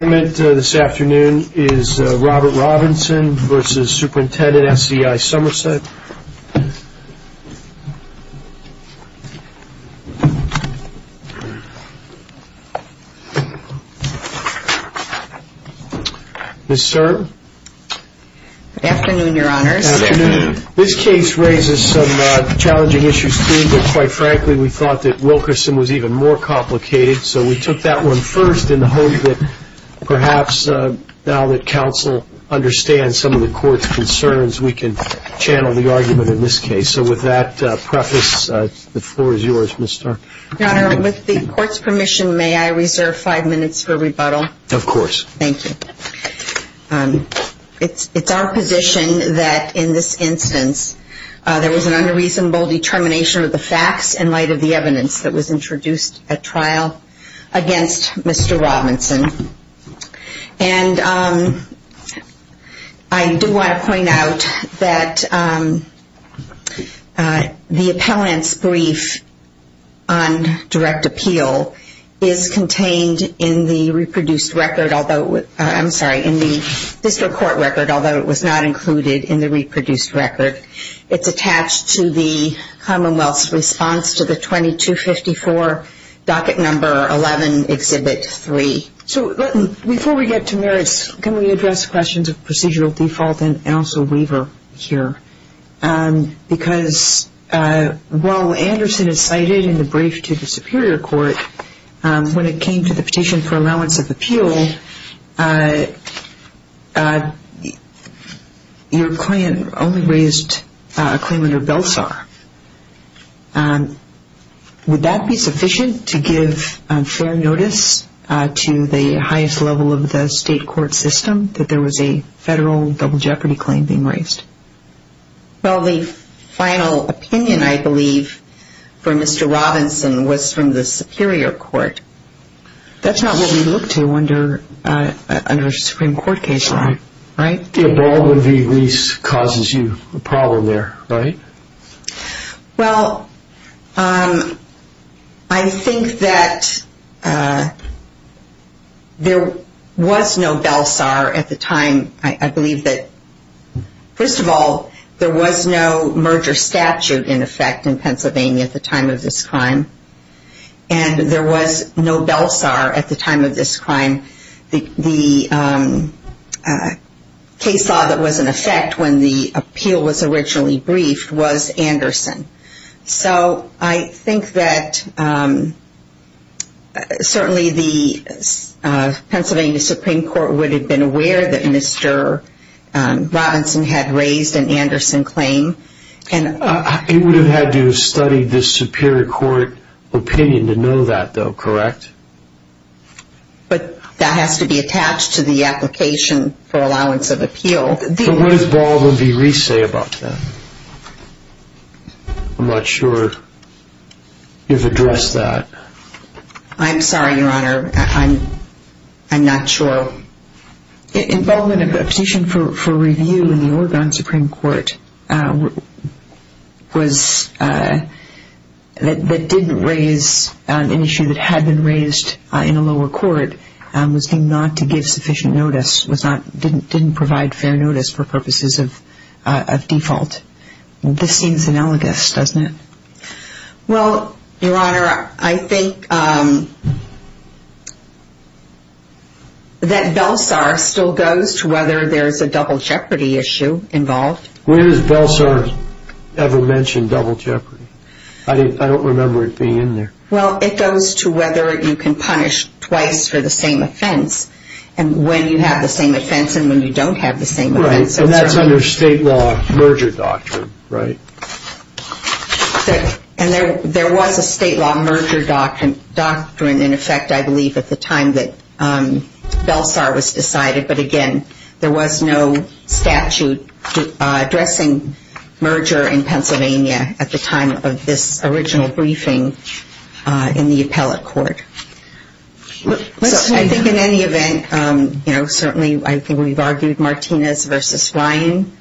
This case raises some challenging issues for you, but quite frankly, we thought that Wilkerson was even more complicated, so we took that one first in the hope that you would be able to answer some of the questions that you may have. Perhaps now that counsel understands some of the court's concerns, we can channel the argument in this case. So with that preface, the floor is yours, Ms. Starr. With the court's permission, may I reserve five minutes for rebuttal? Of course. Thank you. It's our position that in this instance, there was an unreasonable determination of the facts in light of the evidence that was introduced at trial against Mr. Robinson. I do want to point out that the appellant's brief on direct appeal is contained in the district court record, although it was not included in the reproduced record. It's attached to the Commonwealth's response to the 2254 Docket Number 11, Exhibit 3. Before we get to merits, can we address questions of procedural default and also waiver here? Because while Anderson is cited in the brief to the Superior Court, when it came to the petition for allowance of appeal, your client only raised a claim under Belsar. Would that be sufficient to give fair notice to the highest level of the state court system that there was a federal double jeopardy claim being raised? The only final opinion, I believe, for Mr. Robinson was from the Superior Court. That's not what we look to under a Supreme Court case law, right? The abatement of the lease causes you a problem there, right? Well, I think that there was no Belsar at the time. I believe that, first of all, there was no merger statute in effect in Pennsylvania at the time of this crime. And there was no Belsar at the time of this crime. And the case law that was in effect when the appeal was originally briefed was Anderson. So I think that certainly the Pennsylvania Supreme Court would have been aware that Mr. Robinson had raised an Anderson claim. It would have had to have studied the Superior Court opinion to know that, though, correct? But that has to be attached to the application for allowance of appeal. But what does Baldwin v. Reese say about that? I'm not sure you've addressed that. I'm sorry, Your Honor. I'm not sure. In Baldwin, a position for review in the Oregon Supreme Court that didn't raise an issue that had been raised in a lower court was deemed not to give sufficient notice, didn't provide fair notice for purposes of default. This seems analogous, doesn't it? Well, Your Honor, I think that Belsar still goes to whether there's a double jeopardy issue involved. Where does Belsar ever mention double jeopardy? I don't remember it being in there. Well, it goes to whether you can punish twice for the same offense and when you have the same offense and when you don't have the same offense. And that's under state law merger doctrine, right? And there was a state law merger doctrine, in effect, I believe, at the time that Belsar was decided. But again, there was no statute addressing merger in Pennsylvania at the time of this original briefing in the appellate court. So I think in any event, certainly I think we've argued Martinez v. Ryan.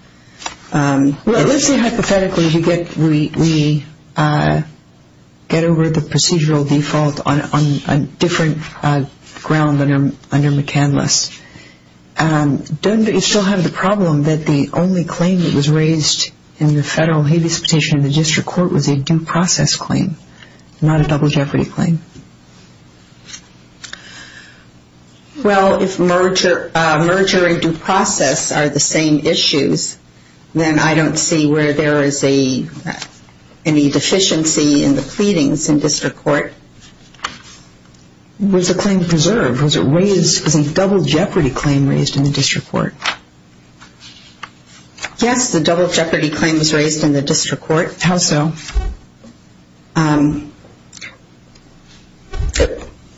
Well, let's say hypothetically we get over the procedural default on a different ground under McCandless. Don't you still have the problem that the only claim that was raised in the federal habeas petition in the district court was a due process claim, not a double jeopardy claim? Well, if merger and due process are the same issues, then I don't see where there is any deficiency in the pleadings in district court. Was the claim preserved? Was a double jeopardy claim raised in the district court? Yes, the double jeopardy claim was raised in the district court. How so?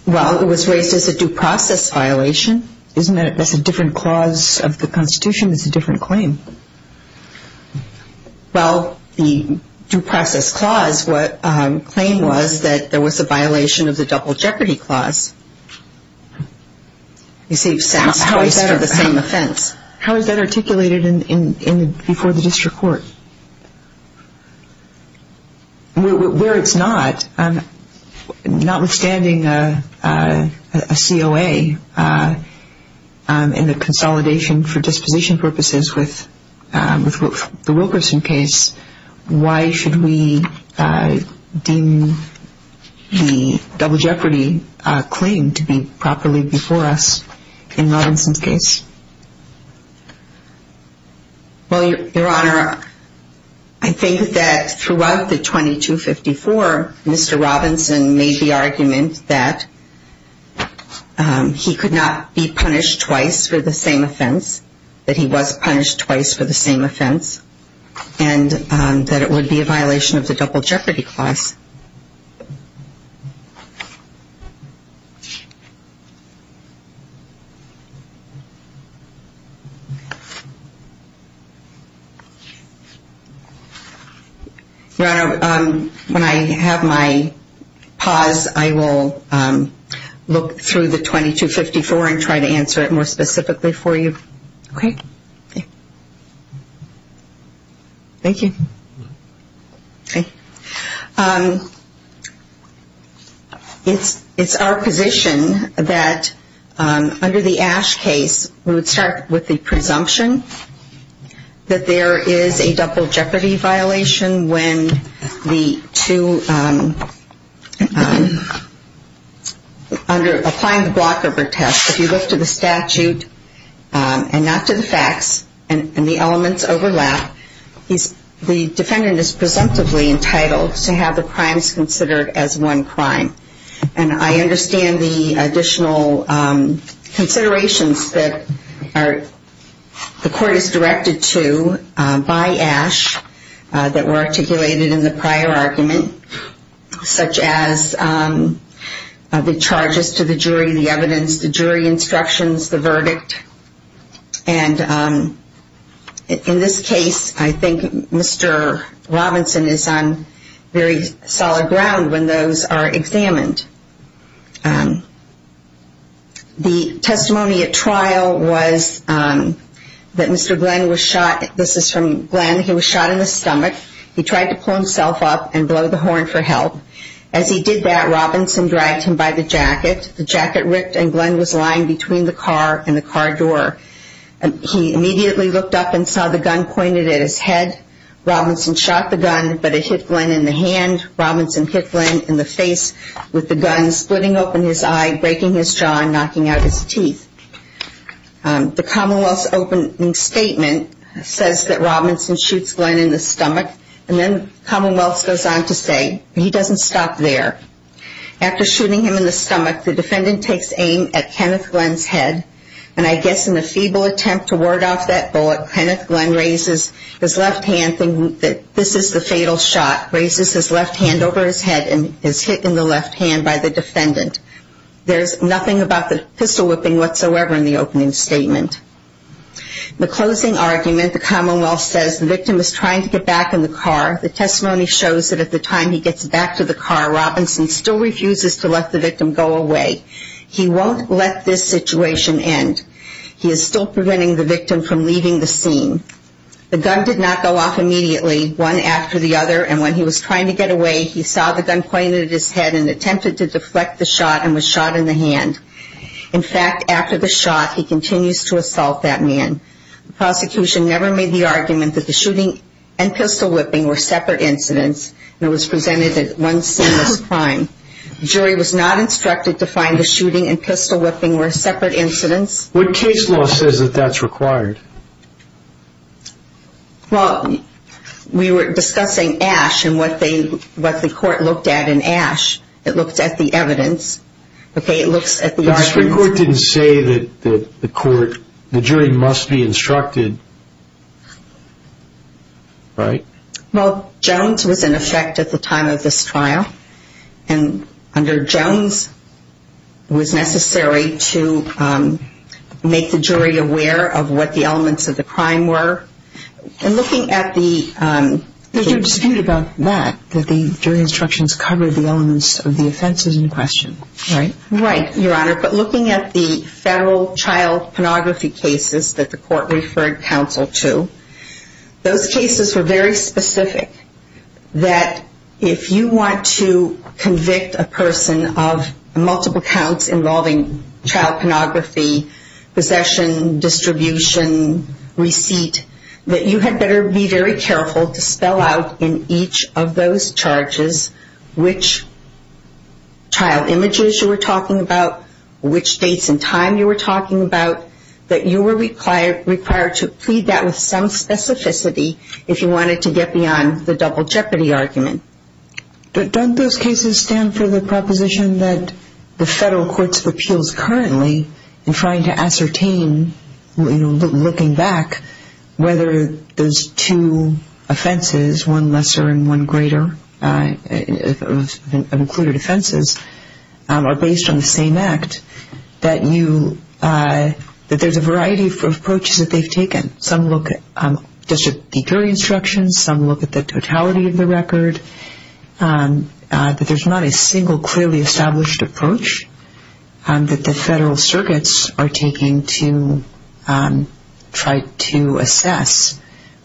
Well, it was raised as a due process violation. Isn't that a different clause of the Constitution? It's a different claim. Well, the due process clause, what claim was that there was a violation of the double jeopardy clause. You see, it's the same offense. How is that articulated before the district court? Where it's not, notwithstanding a COA in the consolidation for disposition purposes with the Wilkerson case, why should we deem the double jeopardy claim to be properly before us in Robinson's case? Well, Your Honor, I think that throughout the 2254, Mr. Robinson made the argument that he could not be punished twice for the same offense, that he was punished twice for the same offense, and that it would be a violation of the double jeopardy clause. Your Honor, when I have my pause, I will look through the 2254 and try to answer it more specifically for you. Okay. Thank you. Okay. It's our position that under the Ash case, we would start with the presumption that there is a double jeopardy violation when the two, under applying the blocker test, if you look to the statute and not to the facts and the elements overlap, the defendant is presumptively entitled to have the crimes considered as one crime. And I understand the additional considerations that the court is directed to by Ash that were articulated in the prior argument, such as the charges to the jury, the evidence, the jury instructions, the verdict. And in this case, I think Mr. Robinson is on very solid ground when those are examined. The testimony at trial was that Mr. Glenn was shot. This is from Glenn. He was shot in the stomach. He tried to pull himself up and blow the horn for help. As he did that, Robinson dragged him by the jacket. The jacket ripped and Glenn was lying between the car and the car door. He immediately looked up and saw the gun pointed at his head. Robinson shot the gun, but it hit Glenn in the hand. And he was shot in the stomach with the gun splitting open his eye, breaking his jaw, and knocking out his teeth. The Commonwealth's opening statement says that Robinson shoots Glenn in the stomach. And then Commonwealth goes on to say, he doesn't stop there. After shooting him in the stomach, the defendant takes aim at Kenneth Glenn's head. And I guess in a feeble attempt to ward off that bullet, Kenneth Glenn raises his left hand. This is the fatal shot. Raises his left hand over his head and is hit in the left hand by the defendant. There's nothing about the pistol whipping whatsoever in the opening statement. The closing argument, the Commonwealth says the victim is trying to get back in the car. The testimony shows that at the time he gets back to the car, Robinson still refuses to let the victim go away. He won't let this situation end. He is still preventing the victim from leaving the scene. The gun did not go off immediately, one after the other. And when he was trying to get away, he saw the gun pointed at his head and attempted to deflect the shot and was shot in the hand. In fact, after the shot, he continues to assault that man. The prosecution never made the argument that the shooting and pistol whipping were separate incidents. And it was presented as one seamless crime. The jury was not instructed to find the shooting and pistol whipping were separate incidents. What case law says that that's required? Well, we were discussing Ash and what the court looked at in Ash. It looked at the evidence. Okay, it looks at the arguments. But the Supreme Court didn't say that the court, the jury must be instructed, right? Well, Jones was in effect at the time of this trial. And under Jones, it was necessary to make the jury aware of what the elements of the crime were. And looking at the... But you're disputing about that, that the jury instructions covered the elements of the offenses in question, right? Right, Your Honor. But looking at the federal child pornography cases that the court referred counsel to, those cases were very specific, that if you want to convict a person of multiple counts involving child pornography, possession, distribution, receipt, that you had better be very careful to spell out in each of those charges which child images you were talking about, which dates and time you were talking about, that you were required to plead that with some specificity if you wanted to get beyond the double jeopardy argument. Don't those cases stand for the proposition that the federal courts of appeals currently in trying to ascertain, looking back, whether those two offenses, one lesser and one greater, of included offenses, are based on the same act, that there's a variety of approaches that they've taken. Some look at just the jury instructions. Some look at the totality of the record. But there's not a single clearly established approach that the federal circuits are taking to try to assess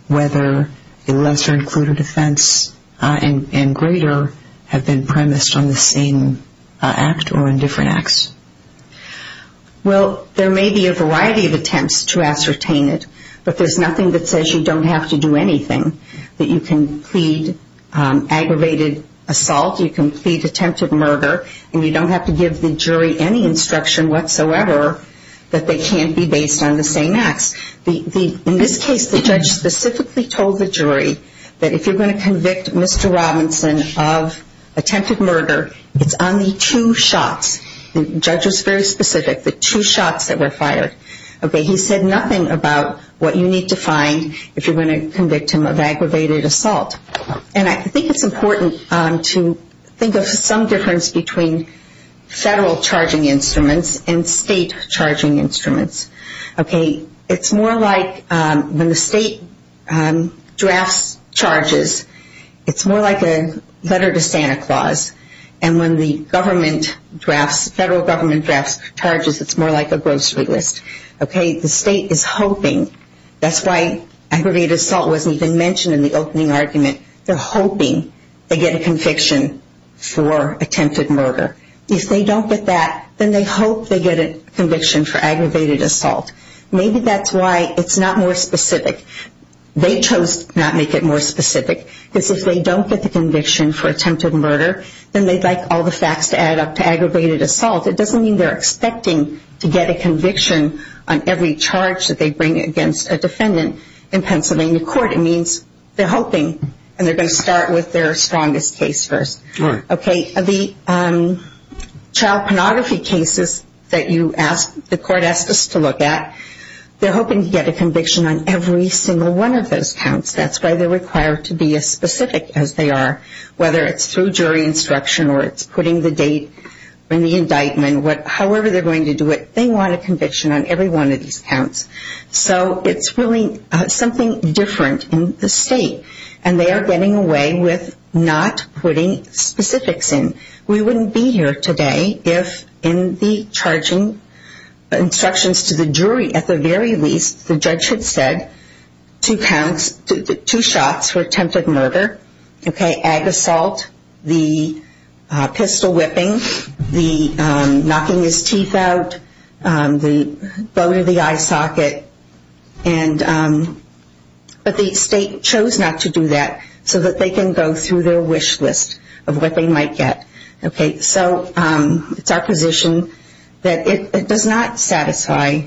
whether a lesser included offense and greater have been premised on the same act or in different acts. Well, there may be a variety of attempts to ascertain it, but there's nothing that says you don't have to do anything, that you can plead aggravated assault, you can plead attempted murder, and you don't have to give the jury any instruction whatsoever that they can't be based on the same acts. In this case, the judge specifically told the jury that if you're going to convict Mr. Robinson of attempted murder, it's on the two shots, the judge was very specific, the two shots that were fired. Okay, he said nothing about what you need to find if you're going to convict him of aggravated assault. And I think it's important to think of some difference between federal charging instruments and state charging instruments. Okay, it's more like when the state drafts charges, it's more like a letter to Santa Claus. And when the government drafts, federal government drafts charges, it's more like a grocery list. Okay, the state is hoping, that's why aggravated assault wasn't even mentioned in the opening argument, they're hoping they get a conviction for attempted murder. If they don't get that, then they hope they get a conviction for aggravated assault. Maybe that's why it's not more specific. They chose not to make it more specific, because if they don't get the conviction for attempted murder, then they'd like all the facts to add up to aggravated assault. It doesn't mean they're expecting to get a conviction on every charge that they bring against a defendant in Pennsylvania court. It means they're hoping, and they're going to start with their strongest case first. Okay, the child pornography cases that the court asked us to look at, they're hoping to get a conviction on every single one of those counts. That's why they're required to be as specific as they are. Whether it's through jury instruction or it's putting the date in the indictment, however they're going to do it, they want a conviction on every one of these counts. So it's really something different in the state. And they are getting away with not putting specifics in. We wouldn't be here today if in the charging instructions to the jury, at the very least, the judge had said two counts, two shots for attempted murder, okay, ag assault, the pistol whipping, the knocking his teeth out, the bone of the eye socket, but the state chose not to do that so that they can go through their wish list of what they might get. Okay, so it's our position that it does not satisfy,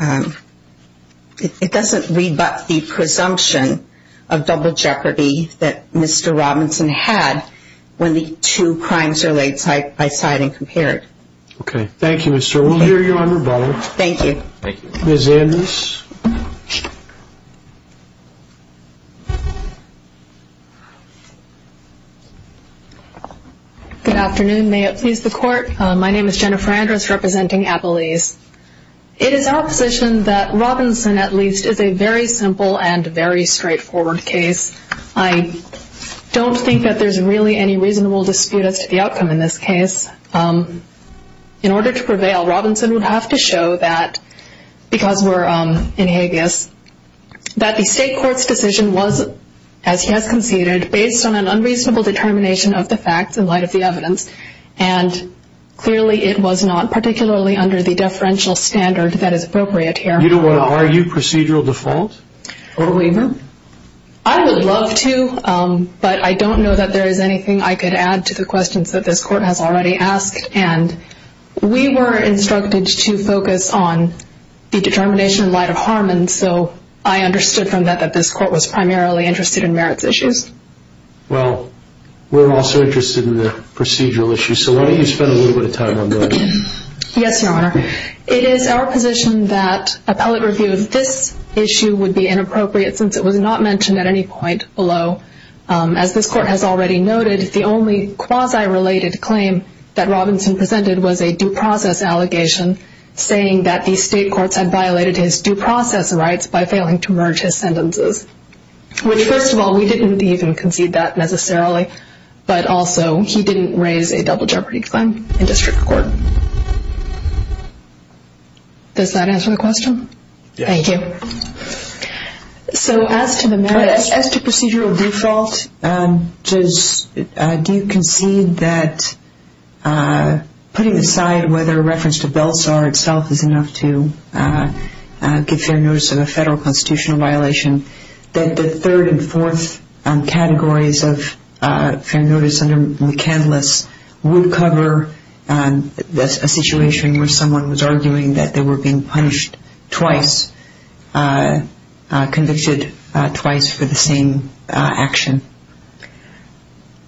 it doesn't rebut the presumption of double jeopardy that Mr. Robinson had when the two crimes are laid side by side and compared. Okay, thank you, Mr. We'll hear you on rebuttal. Thank you. Ms. Andrews. Good afternoon, may it please the court. My name is Jennifer Andrews representing Appalese. It is our position that Robinson, at least, is a very simple and very straightforward case. I don't think that there's really any reasonable dispute as to the outcome in this case. In order to prevail, Robinson would have to show that, because we're in Hagueis, that the state court's decision was, as he has conceded, based on an unreasonable determination of the facts in light of the evidence, and clearly it was not particularly under the deferential standard that is appropriate here. You don't want to argue procedural default? Or waiver? I would love to, but I don't know that there is anything I could add to the questions that this court has already asked, and we were instructed to focus on the determination in light of Harmon, so I understood from that that this court was primarily interested in merits issues. Well, we're also interested in the procedural issues, so why don't you spend a little bit of time on those. Yes, Your Honor. It is our position that appellate review of this issue would be inappropriate since it was not mentioned at any point below. As this court has already noted, the only quasi-related claim that Robinson presented was a due process allegation saying that the state courts had violated his due process rights by failing to merge his sentences, which, first of all, we didn't even concede that necessarily, but also he didn't raise a double jeopardy claim in district court. Does that answer the question? Yes. Thank you. So as to the merits... As to procedural default, do you concede that putting aside whether a reference to Belsar itself is enough to give fair notice of a federal constitutional violation, that the third and fourth categories of fair notice under McCandless would cover a situation where someone was arguing that they were being punished twice or being convicted twice for the same action?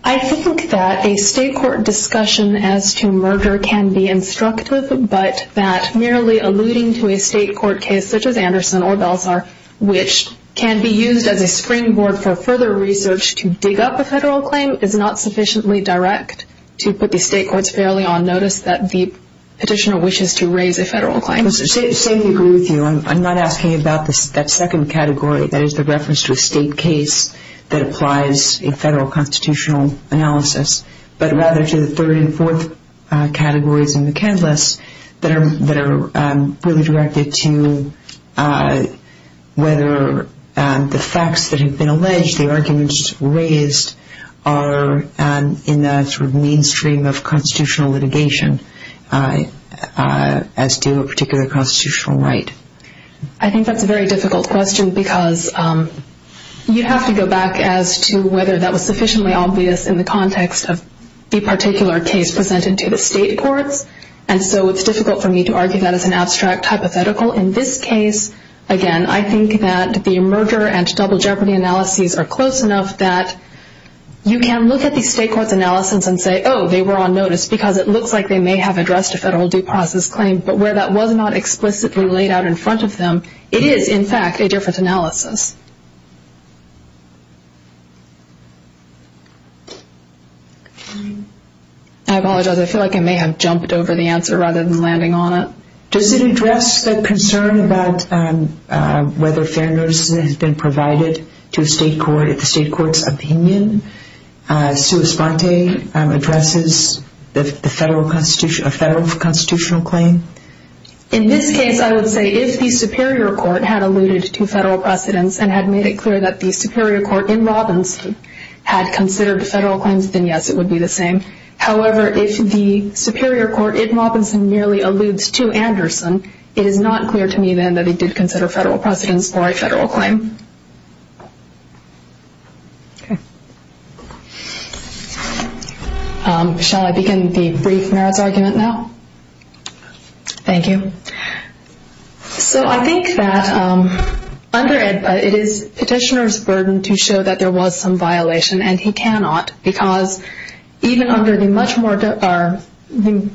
I think that a state court discussion as to merger can be instructive, but that merely alluding to a state court case such as Anderson or Belsar, which can be used as a springboard for further research to dig up a federal claim, is not sufficiently direct to put the state courts fairly on notice that the petitioner wishes to raise a federal claim. I completely agree with you. I'm not asking about that second category, that is the reference to a state case that applies a federal constitutional analysis, but rather to the third and fourth categories in McCandless that are really directed to whether the facts that have been alleged, the arguments raised, are in the sort of mainstream of constitutional litigation, as to a particular constitutional right. I think that's a very difficult question, because you have to go back as to whether that was sufficiently obvious in the context of the particular case presented to the state courts, and so it's difficult for me to argue that as an abstract hypothetical. In this case, again, I think that the merger and double jeopardy analyses are close enough that you can look at the state court's analysis and say, oh, they were on notice, because it looks like they may have addressed a federal due process claim, but where that was not explicitly laid out in front of them, it is, in fact, a different analysis. I apologize. I feel like I may have jumped over the answer rather than landing on it. Does it address the concern about whether fair notice has been provided to the state court, and in the state court's opinion, sui sponte addresses a federal constitutional claim? In this case, I would say if the Superior Court had alluded to federal precedence and had made it clear that the Superior Court in Robinson had considered federal claims, then yes, it would be the same. However, if the Superior Court in Robinson merely alludes to Anderson, it is not clear to me, then, that it did consider federal precedence for a federal claim. Okay. Shall I begin the brief merits argument now? Thank you. So I think that under it, it is petitioner's burden to show that there was some violation, and he cannot, because even under the much more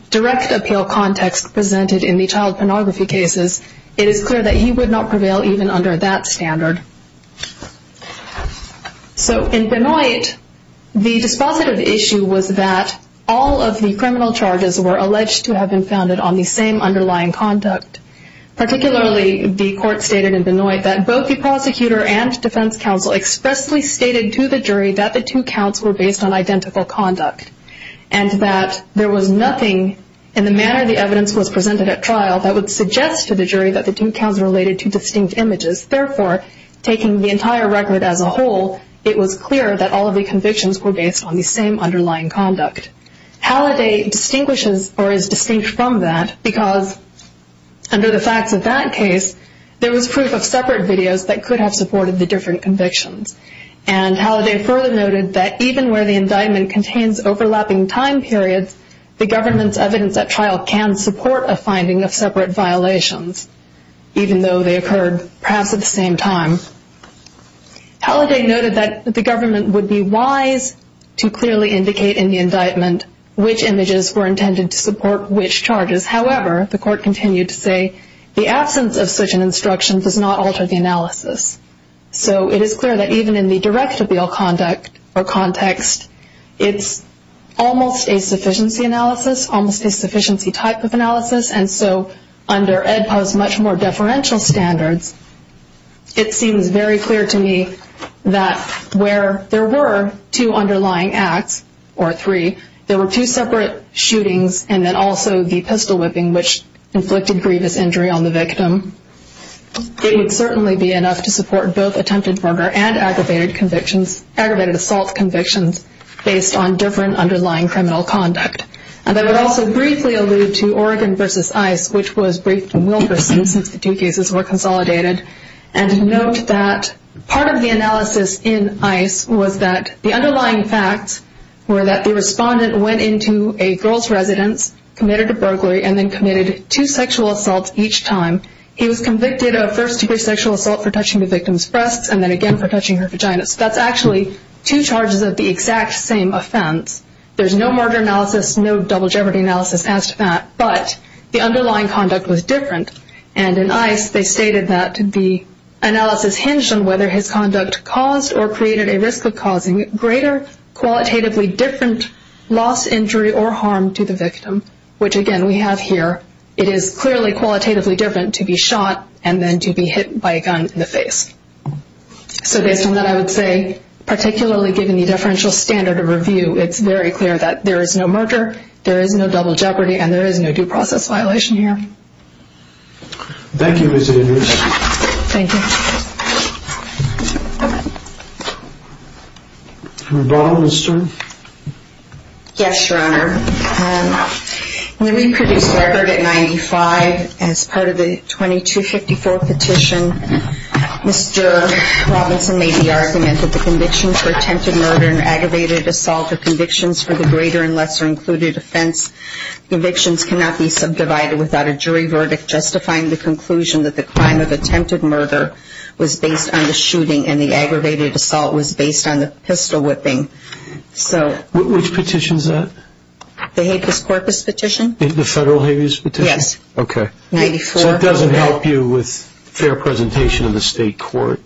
direct appeal context presented in the child pornography cases, it is clear that he would not prevail even under that standard. So in Benoit, the dispositive issue was that all of the criminal charges were alleged to have been founded on the same underlying conduct. Particularly, the court stated in Benoit that both the prosecutor and defense counsel expressly stated to the jury that the two counts were based on identical conduct, and that there was nothing in the manner the evidence was presented at trial that would suggest to the jury that the two counts related to distinct images. Therefore, taking the entire record as a whole, it was clear that all of the convictions were based on the same underlying conduct. Halliday distinguishes, or is distinct from that, because under the facts of that case, there was proof of separate videos that could have supported the different convictions. And Halliday further noted that even where the indictment contains overlapping time periods, the government's evidence at trial can support a finding of separate violations, even though they occurred perhaps at the same time. Halliday noted that the government would be wise to clearly indicate in the indictment which images were intended to support which charges. However, the court continued to say the absence of such an instruction does not alter the analysis. So it is clear that even in the direct-to-bail conduct, or context, it's almost a sufficiency analysis, almost a sufficiency type of analysis, and so under EDPA's much more deferential standards, it seems very clear to me that where there were two underlying acts, or three, there were two separate shootings and then also the pistol whipping, which inflicted grievous injury on the victim. It would certainly be enough to support both attempted murder and aggravated assault convictions based on different underlying criminal conduct. And I would also briefly allude to Oregon v. ICE, which was briefed in Wilkerson since the two cases were consolidated. And note that part of the analysis in ICE was that the underlying facts were that the respondent went into a girl's residence, committed a burglary, and then committed two sexual assaults each time. He was convicted of first-degree sexual assault for touching the victim's breasts and then again for touching her vagina. So that's actually two charges of the exact same offense. But the underlying conduct was different. And in ICE, they stated that the analysis hinged on whether his conduct caused or created a risk of causing greater qualitatively different loss, injury, or harm to the victim, which again we have here. It is clearly qualitatively different to be shot and then to be hit by a gun in the face. So based on that, I would say particularly given the deferential standard of review, it's very clear that there is no murder, there is no double jeopardy, and there is no due process violation here. Thank you, Ms. Edwards. Thank you. Ms. Braun, Mr.? Yes, Your Honor. When we produced the record at 95, as part of the 2254 petition, Mr. Robinson made the argument that the convictions for attempted murder and aggravated assault are convictions for the greater offense. Convictions cannot be subdivided without a jury verdict justifying the conclusion that the crime of attempted murder was based on the shooting and the aggravated assault was based on the pistol whipping. So... Which petition is that? The habeas corpus petition. The federal habeas petition? Yes. Okay. 94. So it doesn't help you with fair presentation in the state court?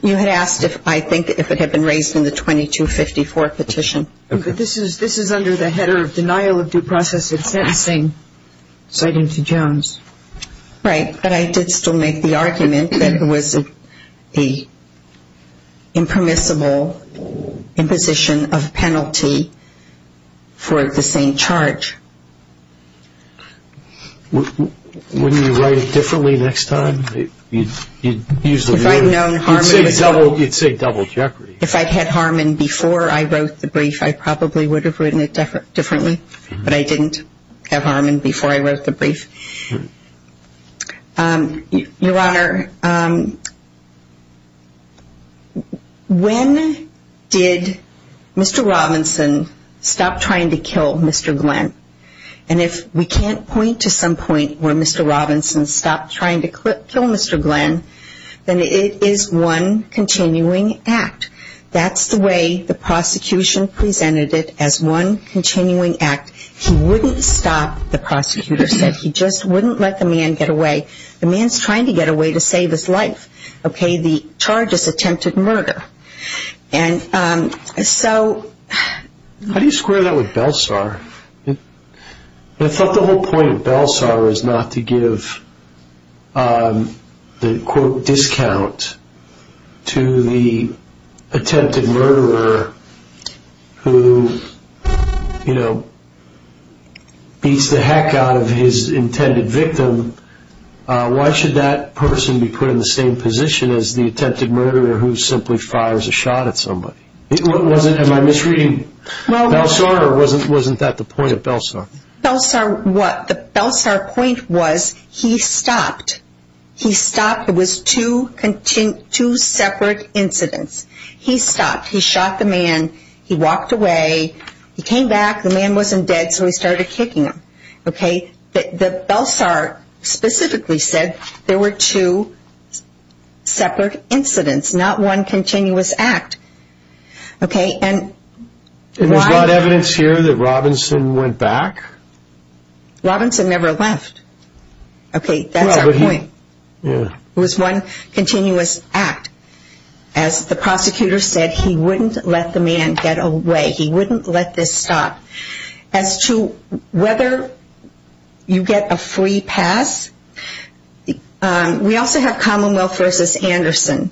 You had asked, I think, if it had been raised in the 2254 petition. Okay. This is under the header of denial of due process of sentencing, citing to Jones. Right. But I did still make the argument that it was a impermissible imposition of penalty for the same charge. Wouldn't you write it differently next time? If I'd known Harmon... You'd say double Jeopardy. If I'd had Harmon before I wrote the brief, I probably would have written it differently. But I didn't have Harmon before I wrote the brief. Your Honor, when did Mr. Robinson stop trying to kill Mr. Glenn? And if we can't point to some point where Mr. Robinson stopped trying to kill Mr. Glenn, then it is one continuing act. That's the way the prosecution presented it as one continuing act. He wouldn't stop. The prosecutor said he just wouldn't let the man get away. The man's trying to get away to save his life. Okay. The charge is attempted murder. And so... How do you square that with Belsar? I thought the whole point of Belsar is not to give the, quote, discount to the attempted murderer who, you know, beats the heck out of his intended victim. Why should that person be put in the same position as the attempted murderer who simply fires a shot at somebody? Am I misreading Belsar or wasn't that the point of Belsar? Belsar what? The Belsar point was he stopped. He stopped. It was two separate incidents. He stopped. He shot the man. He walked away. He came back. The man wasn't dead so he started kicking him. Okay. The Belsar specifically said there were two separate incidents, not one continuous act. Okay. And... And there's not evidence here that Robinson went back? Robinson never left. Okay. That's our point. It was one continuous act as the prosecutor said he wouldn't let the man get away. He wouldn't let this stop. As to whether you get a free pass, we also have Commonwealth versus Anderson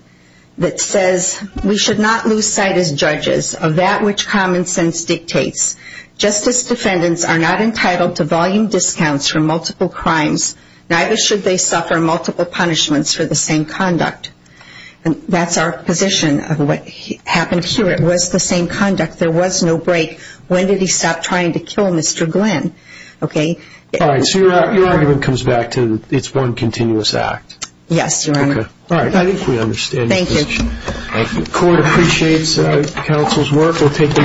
that says we should not lose sight as judges of that which common sense dictates. Justice defendants are not entitled to volume discounts for multiple crimes neither should they suffer multiple punishments for the same conduct. That's our position of what happened here. It was the same conduct. There was no break. When did he stop trying to kill Mr. Glenn? Okay. All right. So your argument comes back to it's one continuous act. Yes, Your Honor. Okay. All right. I think we understand your position. Thank you. Court appreciates counsel's work. We'll take a short break. right back.